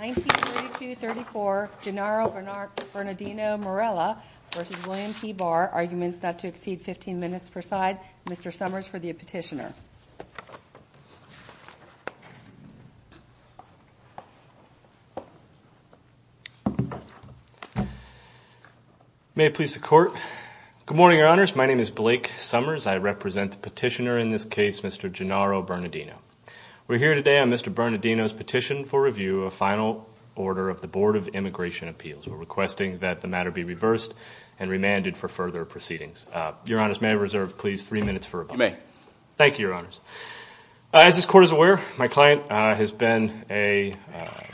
1932-1934, Gennaro Bernardino Murillo v. William P Barr Arguments not to exceed 15 minutes per side Mr. Summers for the petitioner May it please the court Good morning, your honors. My name is Blake Summers. I represent the petitioner in this case, Mr. Gennaro Bernardino. We're here today on Mr. Bernardino's petition for review of final order of the Board of Immigration Appeals. We're requesting that the matter be reversed and remanded for further proceedings. Your honors, may I reserve, please, three minutes for rebuttal? You may. Thank you, your honors. As this court is aware, my client has been a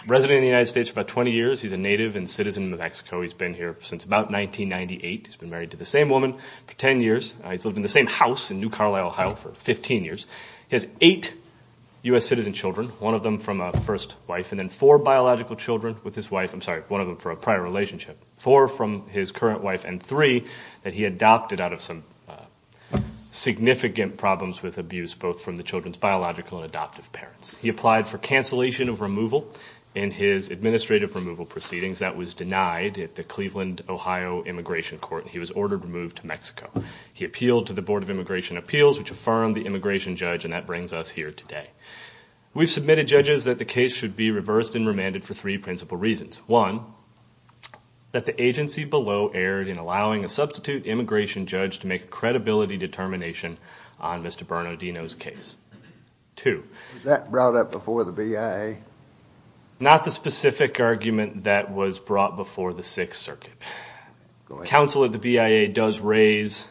resident of the United States for about 20 years. He's a native and citizen of Mexico. He's been here since about 1998. He's been married to the same woman for 10 years. He's lived in the same house in New Carlisle, Ohio for 15 years. He has eight U.S. citizen children, one of them from a first wife, and then four biological children with his wife. I'm sorry, one of them for a prior relationship. Four from his current wife and three that he adopted out of some significant problems with abuse, both from the children's biological and adoptive parents. He applied for cancellation of removal in his administrative removal proceedings. That was denied at the Cleveland, Ohio Immigration Court. He was ordered removed to Mexico. He appealed to the Board of Immigration Appeals, which affirmed the immigration judge, and that brings us here today. We've submitted, judges, that the case should be reversed and remanded for three principal reasons. One, that the agency below erred in allowing a substitute immigration judge to make a credibility determination on Mr. Bernardino's case. Two- Was that brought up before the BIA? Not the specific argument that was brought before the Sixth Circuit. Counsel at the BIA does raise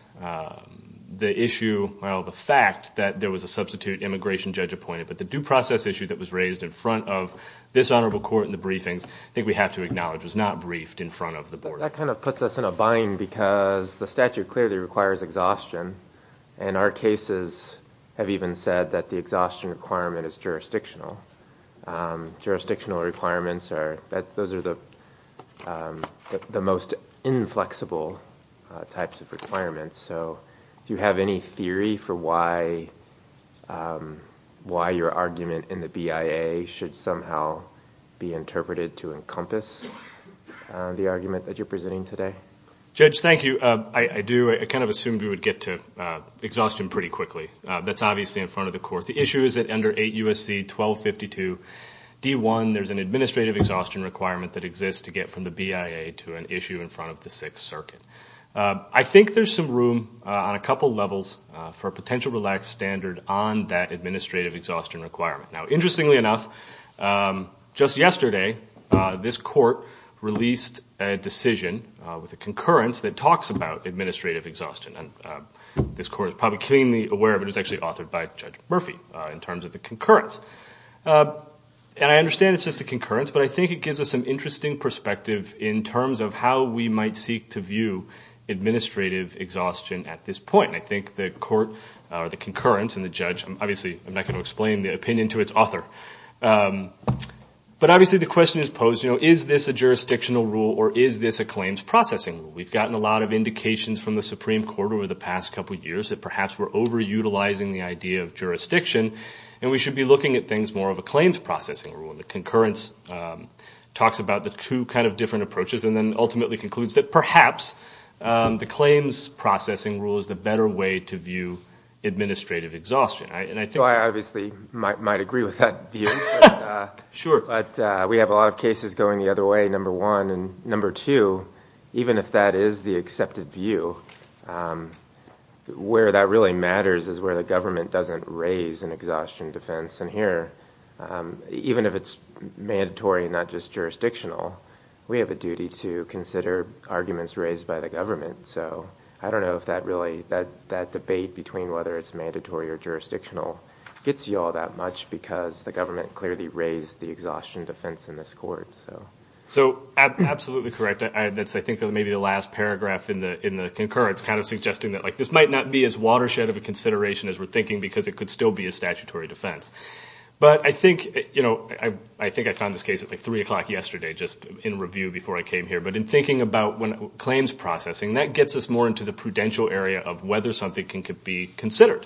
the issue, well, the fact that there was a substitute immigration judge appointed, but the due process issue that was raised in front of this honorable court in the briefings, I think we have to acknowledge, was not briefed in front of the board. That kind of puts us in a bind because the statute clearly requires exhaustion, and our cases have even said that the exhaustion requirement is jurisdictional. Jurisdictional requirements are, those are the most inflexible types of requirements, so do you have any theory for why your argument in the BIA should somehow be interpreted to encompass the argument that you're presenting today? Judge, thank you. I do, I kind of assumed we would get to exhaustion pretty quickly. That's obviously in front of the court. The issue is that under 8 U.S.C. 1252 D.1, there's an administrative exhaustion requirement that exists to get from the BIA to an issue in front of the Sixth Circuit. I think there's some room on a couple levels for a potential relaxed standard on that administrative exhaustion requirement. Now, interestingly enough, just yesterday, this court released a decision with a concurrence that talks about administrative exhaustion. This court is probably keenly aware of it. It was actually authored by Judge Murphy in terms of the concurrence. I understand it's just a concurrence, but I think it gives us some interesting perspective in terms of how we might seek to view administrative exhaustion at this point. I think the concurrence and the judge, obviously, I'm not going to explain the opinion to its author, but obviously the question is posed, is this a jurisdictional rule or is this a claims processing rule? We've gotten a lot of indications from the Supreme Court over the past couple of years that perhaps we're over-utilizing the idea of jurisdiction, and we should be looking at things more of a claims processing rule. The concurrence talks about the two different approaches and then ultimately concludes that perhaps the claims processing rule is the better way to view administrative exhaustion. I obviously might agree with that view, but we have a lot of cases going the other way, number one. Number two, even if that is the accepted view, where that really matters is where the government doesn't raise an exhaustion defense, and here, even if it's mandatory and not just jurisdictional, we have a duty to consider arguments raised by the government. I don't know if that debate between whether it's mandatory or jurisdictional gets you all that much because the government clearly raised the exhaustion defense in this court. Absolutely correct. I think that may be the last paragraph in the concurrence, kind of suggesting that this might not be as watershed of a consideration as we're thinking because it could still be a statutory defense. I think I found this case at 3 o'clock yesterday just in review before I came here, but in thinking about claims processing, that gets us more into the prudential area of whether something can be considered.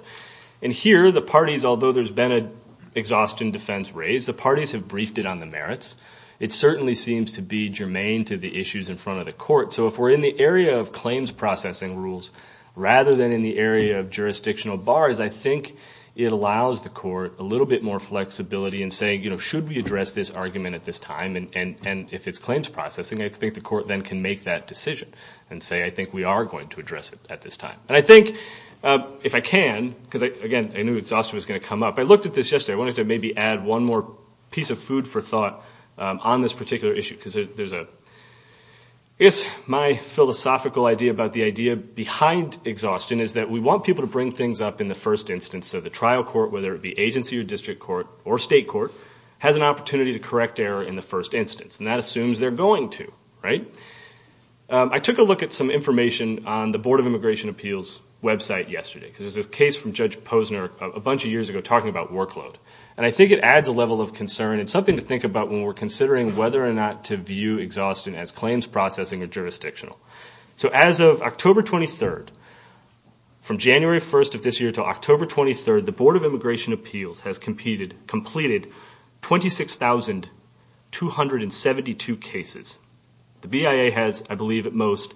Here the parties, although there's been an exhaustion defense raised, the parties have briefed it on the merits. It certainly seems to be germane to the issues in front of the court, so if we're in the area of claims processing rules rather than in the area of jurisdictional bars, I think it allows the court a little bit more flexibility in saying, should we address this argument at this time, and if it's claims processing, I think the court then can make that decision and say, I think we are going to address it at this time. I think, if I can, because again, I knew exhaustion was going to come up, I looked at this yesterday. I wanted to maybe add one more piece of food for thought on this particular issue. My philosophical idea about the idea behind exhaustion is that we want people to bring things up in the first instance, so the trial court, whether it be agency or district court or state court, has an opportunity to correct error in the first instance, and that assumes they're going to, right? I took a look at some information on the Board of Immigration Appeals website yesterday because there's a case from Judge Posner a bunch of years ago talking about workload, and I think it adds a level of concern and something to think about when we're considering whether or not to view exhaustion as claims processing or jurisdictional. So as of October 23rd, from January 1st of this year to October 23rd, the Board of Immigration Appeals has completed 26,272 cases. The BIA has, I believe at most,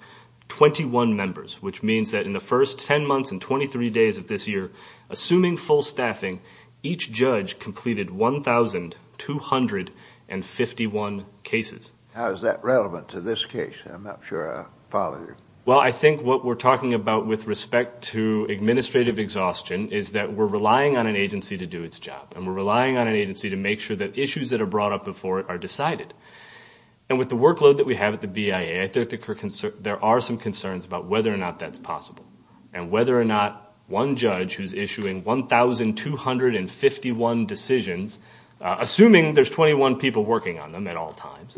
21 members, which means that in the first 10 months and 23 days of this year, assuming full staffing, each judge completed 1,251 cases. How is that relevant to this case? I'm not sure I follow you. Well, I think what we're talking about with respect to administrative exhaustion is that we're relying on an agency to do its job, and we're relying on an agency to make sure that issues that are brought up before it are decided. And with the workload that we have at the BIA, I think there are some concerns about whether or not that's possible, and whether or not one judge who's issuing 1,251 decisions, assuming there's 21 people working on them at all times,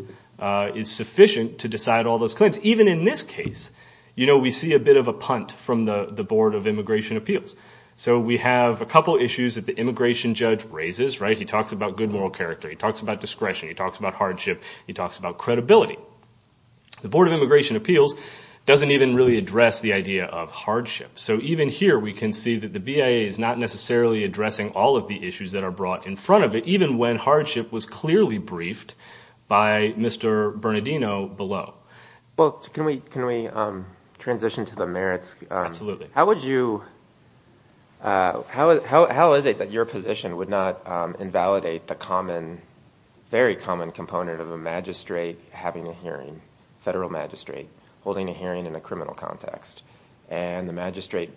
is sufficient to decide all those claims. Even in this case, you know, we see a bit of a punt from the Board of Immigration Appeals. So we have a couple issues that the immigration judge raises, right? He talks about good moral character, he talks about discretion, he talks about hardship, he talks about credibility. The Board of Immigration Appeals doesn't even really address the idea of hardship. So even here, we can see that the BIA is not necessarily addressing all of the issues that are brought in front of it, even when hardship was clearly briefed by Mr. Bernardino below. Well, can we transition to the merits? Absolutely. How would you, how is it that your position would not invalidate the common, very common component of a magistrate having a hearing, federal magistrate, holding a hearing in a criminal context, and the magistrate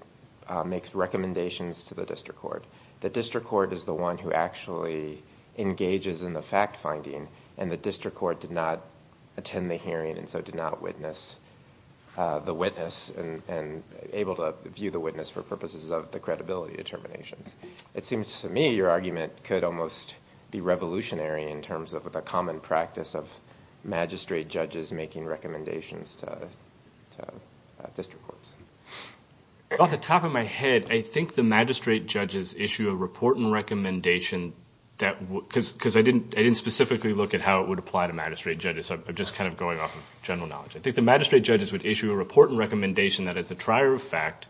makes recommendations to the district court? The district court is the one who actually engages in the fact-finding, and the district court did not attend the hearing, and so did not witness the witness, and able to view the witness for purposes of the credibility determinations. It seems to me your argument could almost be revolutionary in terms of the common practice of magistrate judges making recommendations to district courts. Off the top of my head, I think the magistrate judges issue a report and recommendation that would, because I didn't specifically look at how it would apply to magistrate judges, so I'm just kind of going off of general knowledge. I think the magistrate judges would issue a report and recommendation that as a trier of fact,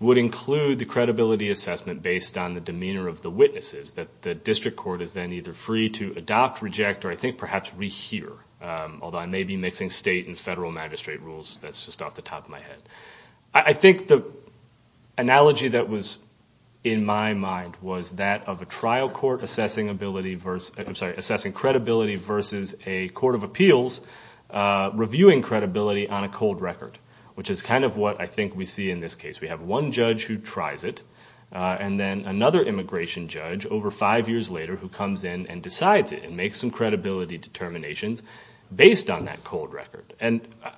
would include the credibility assessment based on the demeanor of the witnesses that the district court is then either free to adopt, reject, or I think perhaps rehear, although I may be mixing state and federal magistrate rules. That's just off the top of my head. I think the analogy that was in my mind was that of a trial court assessing ability versus, I'm sorry, assessing credibility versus a court of appeals reviewing credibility on a cold record, which is kind of what I think we see in this case. We have one judge who tries it, and then another immigration judge over five years later who comes in and decides it and makes some credibility determinations based on that cold record.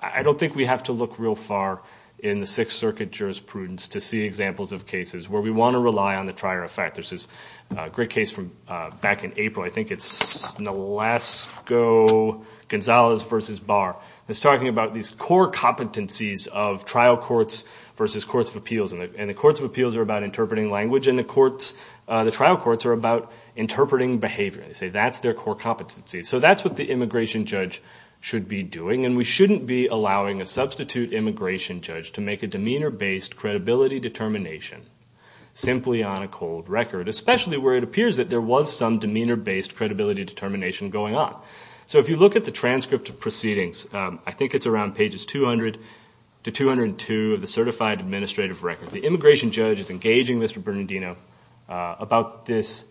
I don't think we have to look real far in the Sixth Circuit jurisprudence to see examples of cases where we want to rely on the trier of fact. There's this great case from back in April. I think it's Nolasco-Gonzalez v. Barr, and it's talking about these core competencies of trial courts versus courts of appeals. The courts of appeals are about interpreting language, and the trial courts are about interpreting behavior. They say that's their core competency. That's what the immigration judge should be doing, and we shouldn't be allowing a substitute immigration judge to make a demeanor-based credibility determination simply on a cold record, especially where it appears that there was some demeanor-based credibility determination going on. So if you look at the transcript of proceedings, I think it's around pages 200-202 of the Certified Administrative Record, the immigration judge is engaging Mr. Bernardino about this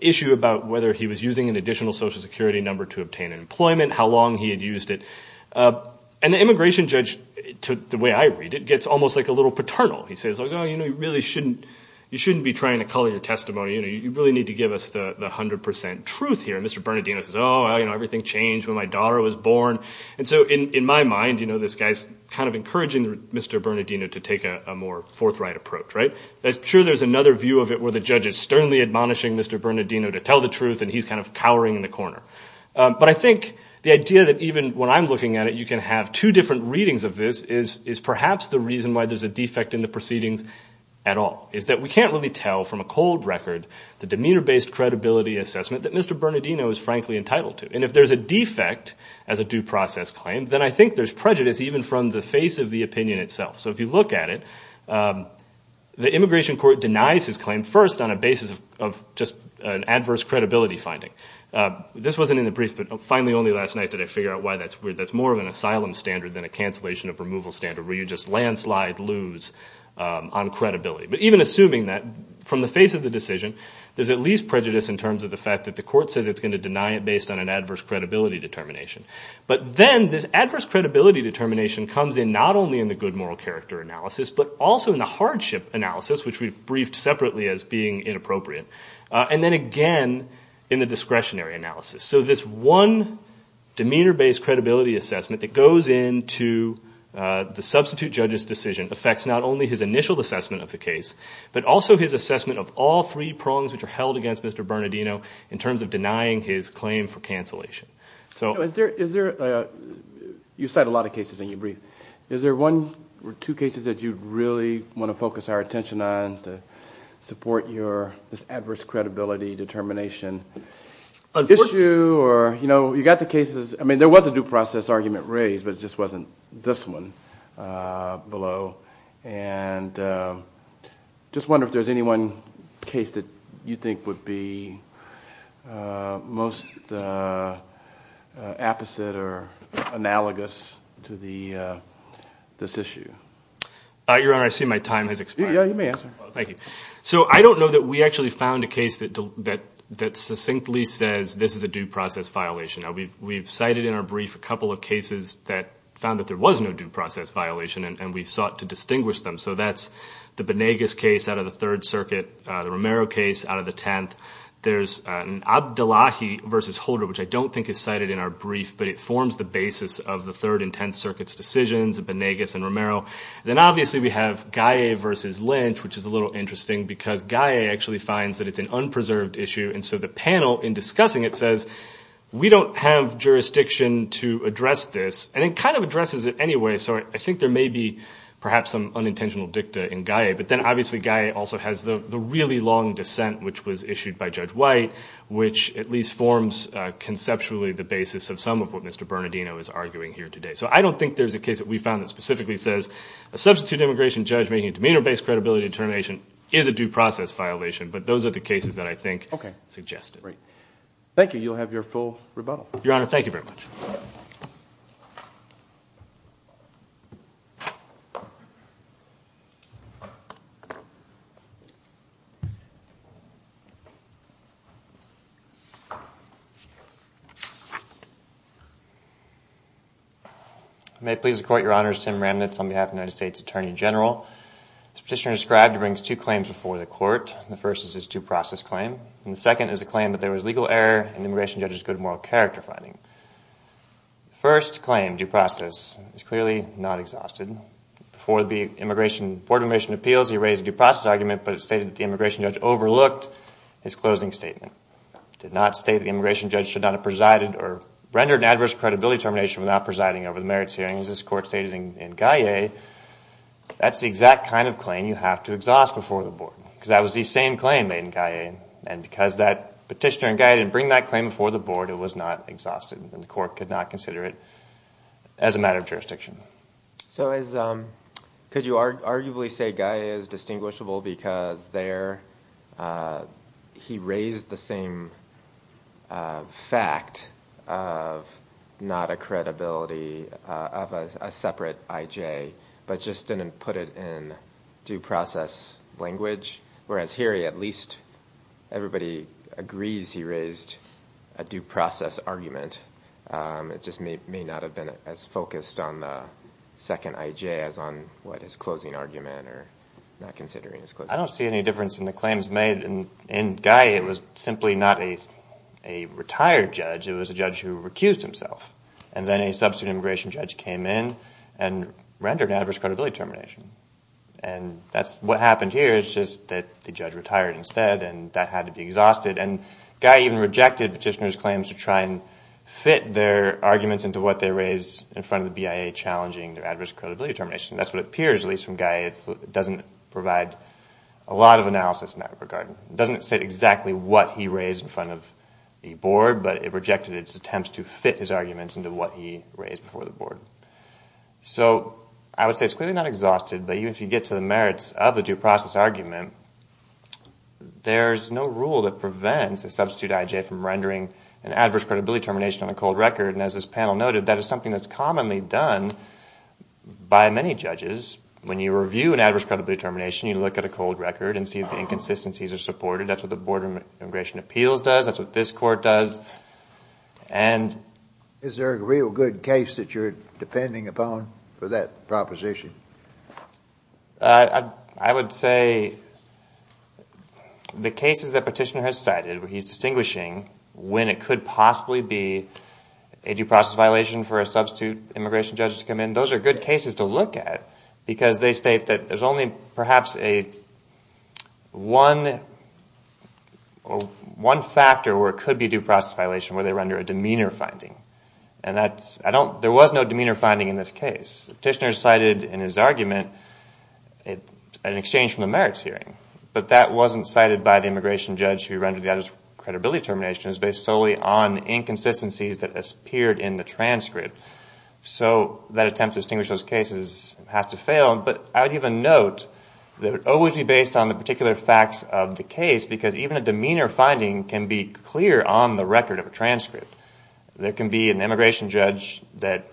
issue about whether he was using an additional Social Security number to obtain employment, how long he had used it, and the immigration judge, the way I read it, gets almost like a little paternal. He says, oh, you know, you really shouldn't be trying to color your testimony. You really need to give us the 100% truth here. Mr. Bernardino says, oh, everything changed when my daughter was born. And so in my mind, this guy's kind of encouraging Mr. Bernardino to take a more forthright approach, right? I'm sure there's another view of it where the judge is sternly admonishing Mr. Bernardino to tell the truth, and he's kind of cowering in the corner. But I think the idea that even when I'm looking at it, you can have two different readings of this is perhaps the reason why there's a defect in the proceedings at all, is that we can't really tell from a cold record the demeanor-based credibility assessment that Mr. Bernardino is frankly entitled to. And if there's a defect as a due process claim, then I think there's prejudice even from the face of the opinion itself. So if you look at it, the immigration court denies his claim first on a basis of just an adverse credibility finding. This wasn't in the brief, but finally only last night did I figure out why that's weird. It's more of a bottom standard than a cancellation of removal standard where you just landslide lose on credibility. But even assuming that, from the face of the decision, there's at least prejudice in terms of the fact that the court says it's going to deny it based on an adverse credibility determination. But then this adverse credibility determination comes in not only in the good moral character analysis, but also in the hardship analysis, which we've briefed separately as being inappropriate, and then again in the discretionary analysis. So this one demeanor-based credibility assessment that goes into the substitute judge's decision affects not only his initial assessment of the case, but also his assessment of all three prongs which are held against Mr. Bernardino in terms of denying his claim for cancellation. So is there, you cite a lot of cases in your brief. Is there one or two cases that you really want to focus our attention on to support your adverse credibility determination issue? You got the cases. I mean, there was a due process argument raised, but it just wasn't this one below. And I just wonder if there's any one case that you think would be most apposite or analogous to this issue. Your Honor, I see my time has expired. Yeah, you may answer. Thank you. So I don't know that we actually found a case that succinctly says this is a due process violation. Now, we've cited in our brief a couple of cases that found that there was no due process violation, and we've sought to distinguish them. So that's the Benegas case out of the Third Circuit, the Romero case out of the Tenth. There's an Abdullahi versus Holder, which I don't think is cited in our brief, but it forms the basis of the Third and Tenth Circuit's decisions, the Benegas and Romero. Then obviously we have Gaye versus Lynch, which is a little interesting because Gaye actually finds that it's an unpreserved issue. And so the panel in discussing it says, we don't have jurisdiction to address this. And it kind of addresses it anyway, so I think there may be perhaps some unintentional dicta in Gaye. But then obviously Gaye also has the really long dissent, which was issued by Judge White, which at least forms conceptually the basis of some of what Mr. Bernardino is arguing here today. So I don't think there's a case that we found that specifically says a substitute immigration judge making a demeanor-based credibility determination is a due process violation, but those are the cases that I think suggest it. Thank you. You'll have your full rebuttal. Your Honor, thank you very much. May it please the Court, Your Honors, Tim Ramnitz on behalf of the United States Attorney General. The petitioner described brings two claims before the Court. The first is his due process claim, and the second is a claim that there was legal error in the immigration judge's good moral character finding. First claim, due process, is clearly not exhausted. Before the board of immigration appeals, he raised a due process argument, but it stated that the immigration judge overlooked his closing statement. It did not state that the immigration judge should not have presided or rendered an adverse credibility determination without presiding over the merits hearings. This Court stated in Gaye, that's the exact kind of claim you have to exhaust before the board, because that was the same claim made in Gaye. And because that petitioner in Gaye didn't bring that claim before the board, it was not exhausted, and the Court could not consider it as a matter of jurisdiction. So could you arguably say Gaye is distinguishable because there he raised the same fact of not a credibility of a separate IJ, but just didn't put it in due process language? Whereas here, at least everybody agrees he raised a due process argument. It just may not have been as focused on the second IJ as on what his closing argument or not considering his closing argument. I don't see any difference in the claims made in Gaye. It was simply not a retired judge, it was a judge who recused himself. And then a substitute immigration judge came in and rendered an adverse credibility determination. And that's what happened here, it's just that the judge retired instead and that had to be exhausted. And Gaye even rejected petitioner's claims to try and fit their arguments into what they raised in front of the BIA challenging their adverse credibility determination. That's what appears, at least from Gaye, it doesn't provide a lot of analysis in that regard. It doesn't say exactly what he raised in front of the board, but it rejected its attempts to fit his arguments into what he raised before the board. So I would say it's clearly not exhausted, but even if you get to the merits of the due process argument, there's no rule that prevents a substitute IJ from rendering an adverse credibility determination on a cold record. And as this panel noted, that is something that's commonly done by many judges. When you review an adverse credibility determination, you look at a cold record and see if the inconsistencies are supported. That's what the Board of Immigration Appeals does, that's what this court does. Is there a real good case that you're depending upon for that proposition? I would say the cases that petitioner has cited where he's distinguishing when it could possibly be a due process violation for a substitute immigration judge to come in, those are good cases to look at because they state that there's only perhaps one factor where it could be a due process violation, where they render a demeanor finding. There was no demeanor finding in this case. Petitioner cited in his argument an exchange from the merits hearing, but that wasn't cited by the immigration judge who rendered the adverse credibility determinations based solely on inconsistencies that appeared in the transcript. So that attempt to distinguish those cases has to fail, but I would even note that it would always be based on the particular facts of the case because even a demeanor finding can be clear on the record of a transcript. There can be an immigration judge that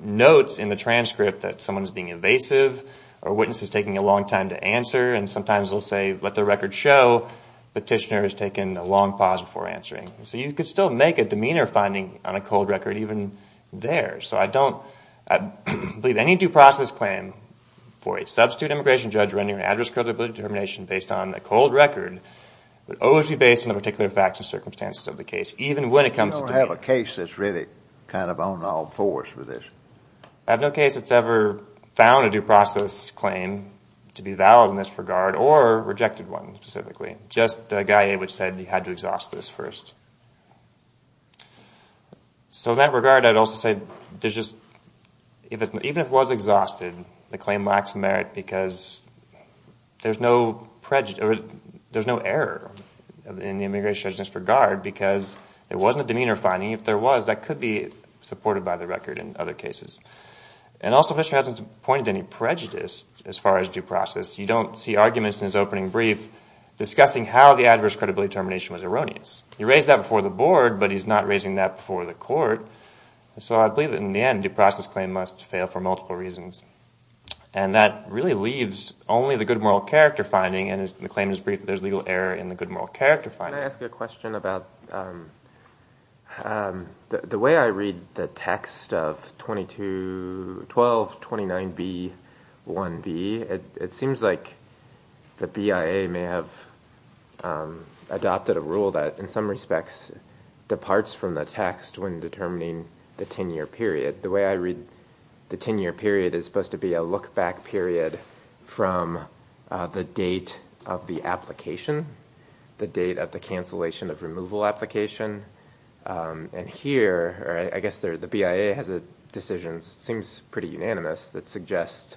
notes in the transcript that someone is being evasive or a witness is taking a long time to answer and sometimes they'll say, let the record show, petitioner has taken a long pause before answering. So you could still make a demeanor finding on a cold record even there. So I don't believe any due process claim for a substitute immigration judge rendering an adverse credibility determination based on a cold record would always be based on the particular facts and circumstances of the case, even when it comes to demeanor. You don't have a case that's really kind of on all fours for this. I have no case that's ever found a due process claim to be valid in this regard or rejected one specifically, just a guy which said you had to exhaust this first. So in that regard, I'd also say there's just, even if it was exhausted, the claim lacks merit because there's no error in the immigration judge's regard because it wasn't a demeanor finding. If there was, that could be supported by the record in other cases. And also, Fisher hasn't pointed any prejudice as far as due process. You don't see arguments in his opening brief discussing how the adverse credibility determination was erroneous. He raised that before the board, but he's not raising that before the court. So I believe that in the end, due process claim must fail for multiple reasons. And that really leaves only the good moral character finding. And the claim is brief. There's legal error in the good moral character finding. Can I ask you a question about the way I read the text of 1229b-1b, it seems like the BIA may have adopted a rule that, in some respects, departs from the text when determining the 10-year period. The way I read the 10-year period is supposed to be a look-back period from the date of the application, the date of the cancellation of removal application. And here, I guess the BIA has a decision, seems pretty unanimous, that suggests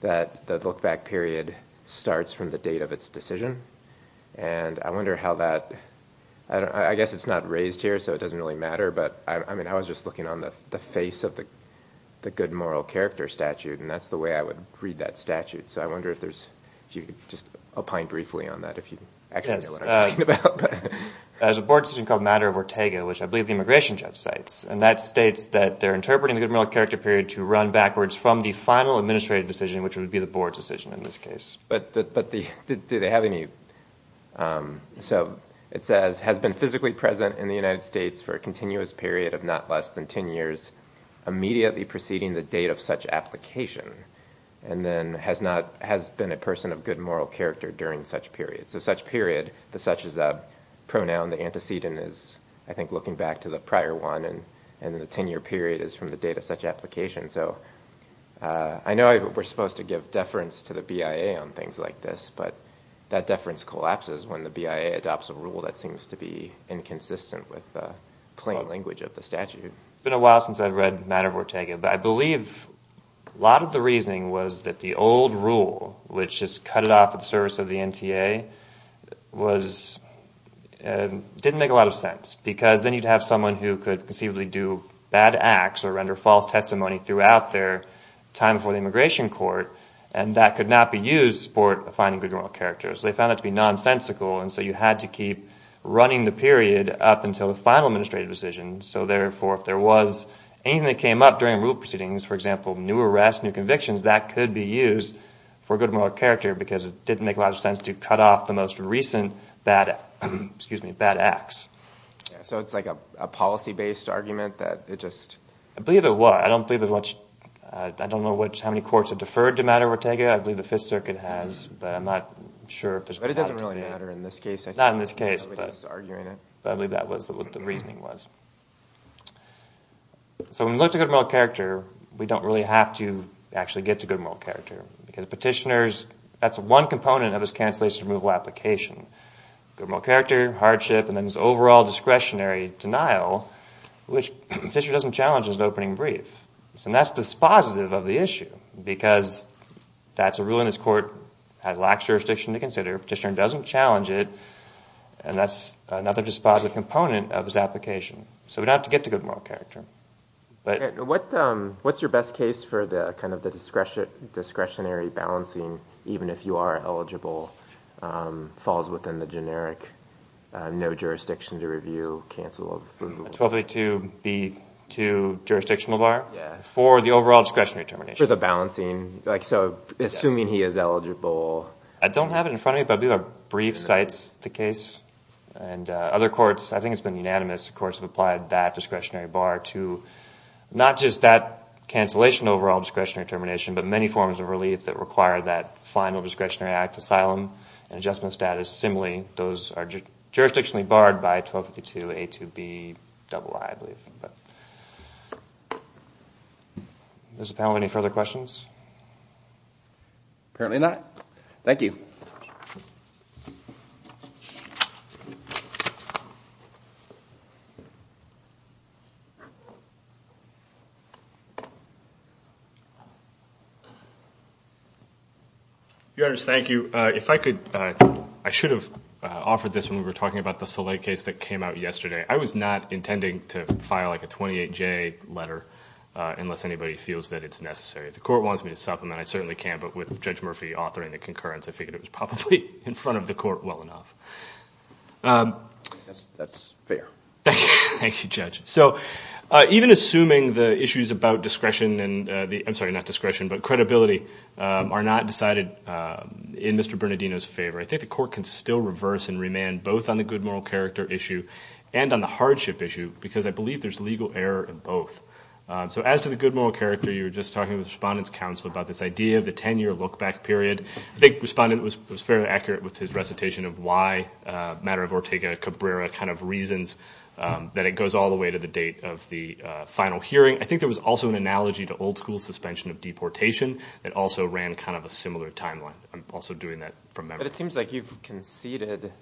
that the look-back period starts from the date of its decision. And I wonder how that, I guess it's not raised here, so it doesn't really matter. But I mean, I was just looking on the face of the good moral character statute, and that's the way I would read that statute. So I wonder if you could just opine briefly on that, if you actually know what I'm talking about. There's a board decision called Matter of Ortega, which I believe the immigration judge cites. And that states that they're interpreting the good moral character period to run backwards from the final administrative decision, which would be the board's decision in this case. But do they have any? So it says, has been physically present in the United States for a continuous period of not less than 10 years, immediately preceding the date of such application. And then has been a person of good moral character during such period. So such period, the such is a pronoun, the antecedent is, I think, looking back to the prior one, and the 10-year period is from the date of such application. So I know we're supposed to give deference to the BIA on things like this, but that deference collapses when the BIA adopts a rule that seems to be inconsistent with plain language of the statute. It's been a while since I've read Matter of Ortega, but I believe a lot of the reasoning was that the old rule, which is cut it off at the service of the NTA, didn't make a lot of sense. Because then you'd have someone who could conceivably do bad acts or render false testimony throughout their time for the immigration court, and that could not be used for finding good moral character. They found that to be nonsensical, and so you had to keep running the period up until the final administrative decision. So therefore, if there was anything that came up during rule proceedings, for example, new arrests, new convictions, that could be used for good moral character because it didn't make a lot of sense to cut off the most recent bad acts. Yeah, so it's like a policy-based argument that it just... I believe it was. I don't believe as much... I don't know how many courts have deferred to Matter of Ortega. I believe the Fifth Circuit has, but I'm not sure if there's... But it doesn't really matter in this case. Not in this case, but I believe that was what the reasoning was. So when we look to good moral character, we don't really have to actually get to good moral character because petitioners... That's one component of his cancellation removal application. Good moral character, hardship, and then his overall discretionary denial, which the petitioner doesn't challenge as an opening brief. And that's dispositive of the issue because that's a rule in this court that lacks jurisdiction to consider. Petitioner doesn't challenge it, and that's another dispositive component of his application. So we don't have to get to good moral character. What's your best case for the discretionary balancing, even if you are eligible, falls within the generic no jurisdiction to review, cancel of removal? 1252B2 jurisdictional bar for the overall discretionary termination. For the balancing. Assuming he is eligible. I don't have it in front of me, but I believe a brief cites the case. And other courts, I think it's been unanimous, the courts have applied that discretionary bar to not just that cancellation overall discretionary termination, but many forms of relief that require that final discretionary act, asylum, and adjustment status similarly. Those are jurisdictionally barred by 1252A2BII, I believe. Does the panel have any further questions? Apparently not. Thank you. Your Honors, thank you. If I could, I should have offered this when we were talking about the Soleil case that came out yesterday. I was not intending to file like a 28J letter unless anybody feels that it's necessary. The court wants me to supplement. I certainly can't. But with Judge Murphy authoring the concurrence, I figured it was probably in front of the court well enough. That's fair. Thank you, Judge. So even assuming the issues about discretion and the, I'm sorry, not discretion, but Mr. Bernardino's favor, I think the court can still reverse and remand both on the good moral character issue and on the hardship issue because I believe there's legal error in both. So as to the good moral character, you were just talking with Respondent's counsel about this idea of the 10-year look back period. I think Respondent was fairly accurate with his recitation of why matter of Ortega Cabrera kind of reasons that it goes all the way to the date of the final hearing. I think there was also an analogy to old school suspension of deportation that also ran kind of a similar timeline. I'm also doing that from memory. But it seems like you've conceded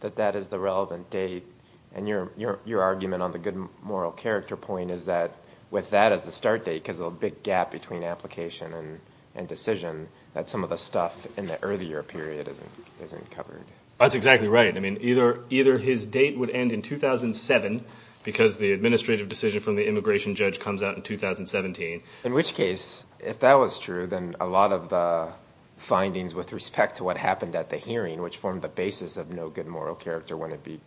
that that is the relevant date. And your argument on the good moral character point is that with that as the start date, because of the big gap between application and decision, that some of the stuff in the earlier period isn't covered. That's exactly right. I mean, either his date would end in 2007 because the administrative decision from the immigration judge comes out in 2017. In which case, if that was true, then a lot of the findings with respect to what happened at the hearing, which formed the basis of no good moral character, wouldn't be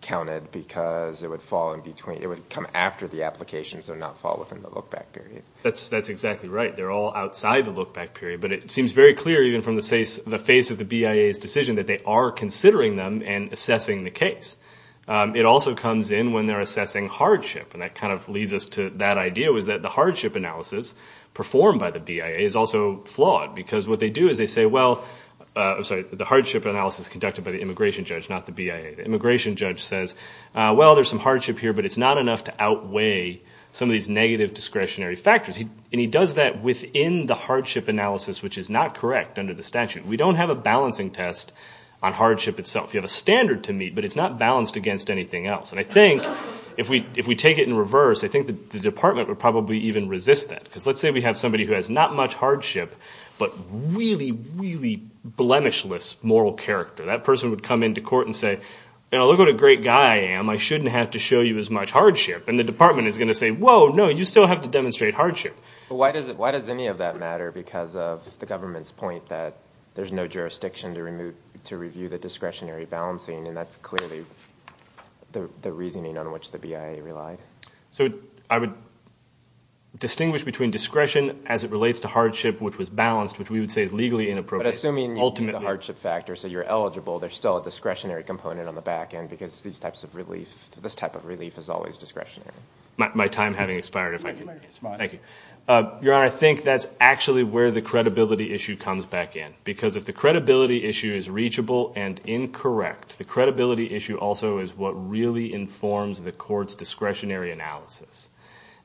counted because it would fall in between. It would come after the application, so not fall within the look back period. That's exactly right. They're all outside the look back period. But it seems very clear, even from the face of the BIA's decision, that they are considering them and assessing the case. It also comes in when they're assessing hardship. And that kind of leads us to that idea was that the hardship analysis performed by the BIA is also flawed. Because what they do is they say, well, I'm sorry, the hardship analysis conducted by the immigration judge, not the BIA. The immigration judge says, well, there's some hardship here, but it's not enough to outweigh some of these negative discretionary factors. And he does that within the hardship analysis, which is not correct under the statute. We don't have a balancing test on hardship itself. You have a standard to meet, but it's not balanced against anything else. And I think if we take it in reverse, I think the department would probably even resist that. Because let's say we have somebody who has not much hardship, but really, really blemishless moral character. That person would come into court and say, look what a great guy I am. I shouldn't have to show you as much hardship. And the department is going to say, whoa, no, you still have to demonstrate hardship. But why does any of that matter? Because of the government's point that there's no jurisdiction to review the discretionary balancing. And that's clearly the reasoning on which the BIA relied. So I would distinguish between discretion as it relates to hardship, which was balanced, which we would say is legally inappropriate. But assuming the hardship factor, so you're eligible, there's still a discretionary component on the back end. Because these types of relief, this type of relief is always discretionary. My time having expired, if I can respond. Thank you. Your Honor, I think that's actually where the credibility issue comes back in. Because if the credibility issue is reachable and incorrect, the credibility issue also is what really informs the court's discretionary analysis.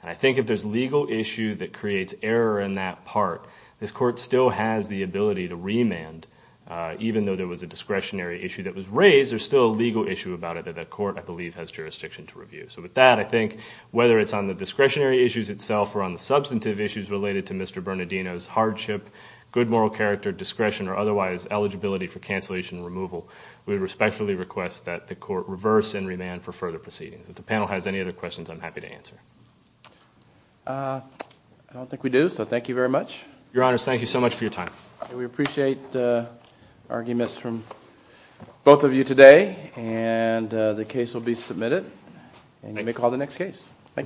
And I think if there's legal issue that creates error in that part, this court still has the ability to remand, even though there was a discretionary issue that was raised, there's still a legal issue about it that the court, I believe, has jurisdiction to review. So with that, I think whether it's on the discretionary issues itself or on the substantive issues related to Mr. Bernardino's hardship, good moral character, discretion, or otherwise eligibility for cancellation and removal, we respectfully request that the court reverse and remand for further proceedings. If the panel has any other questions, I'm happy to answer. I don't think we do. So thank you very much. Your Honor, thank you so much for your time. We appreciate the arguments from both of you today. And you may call the next case. Thank you.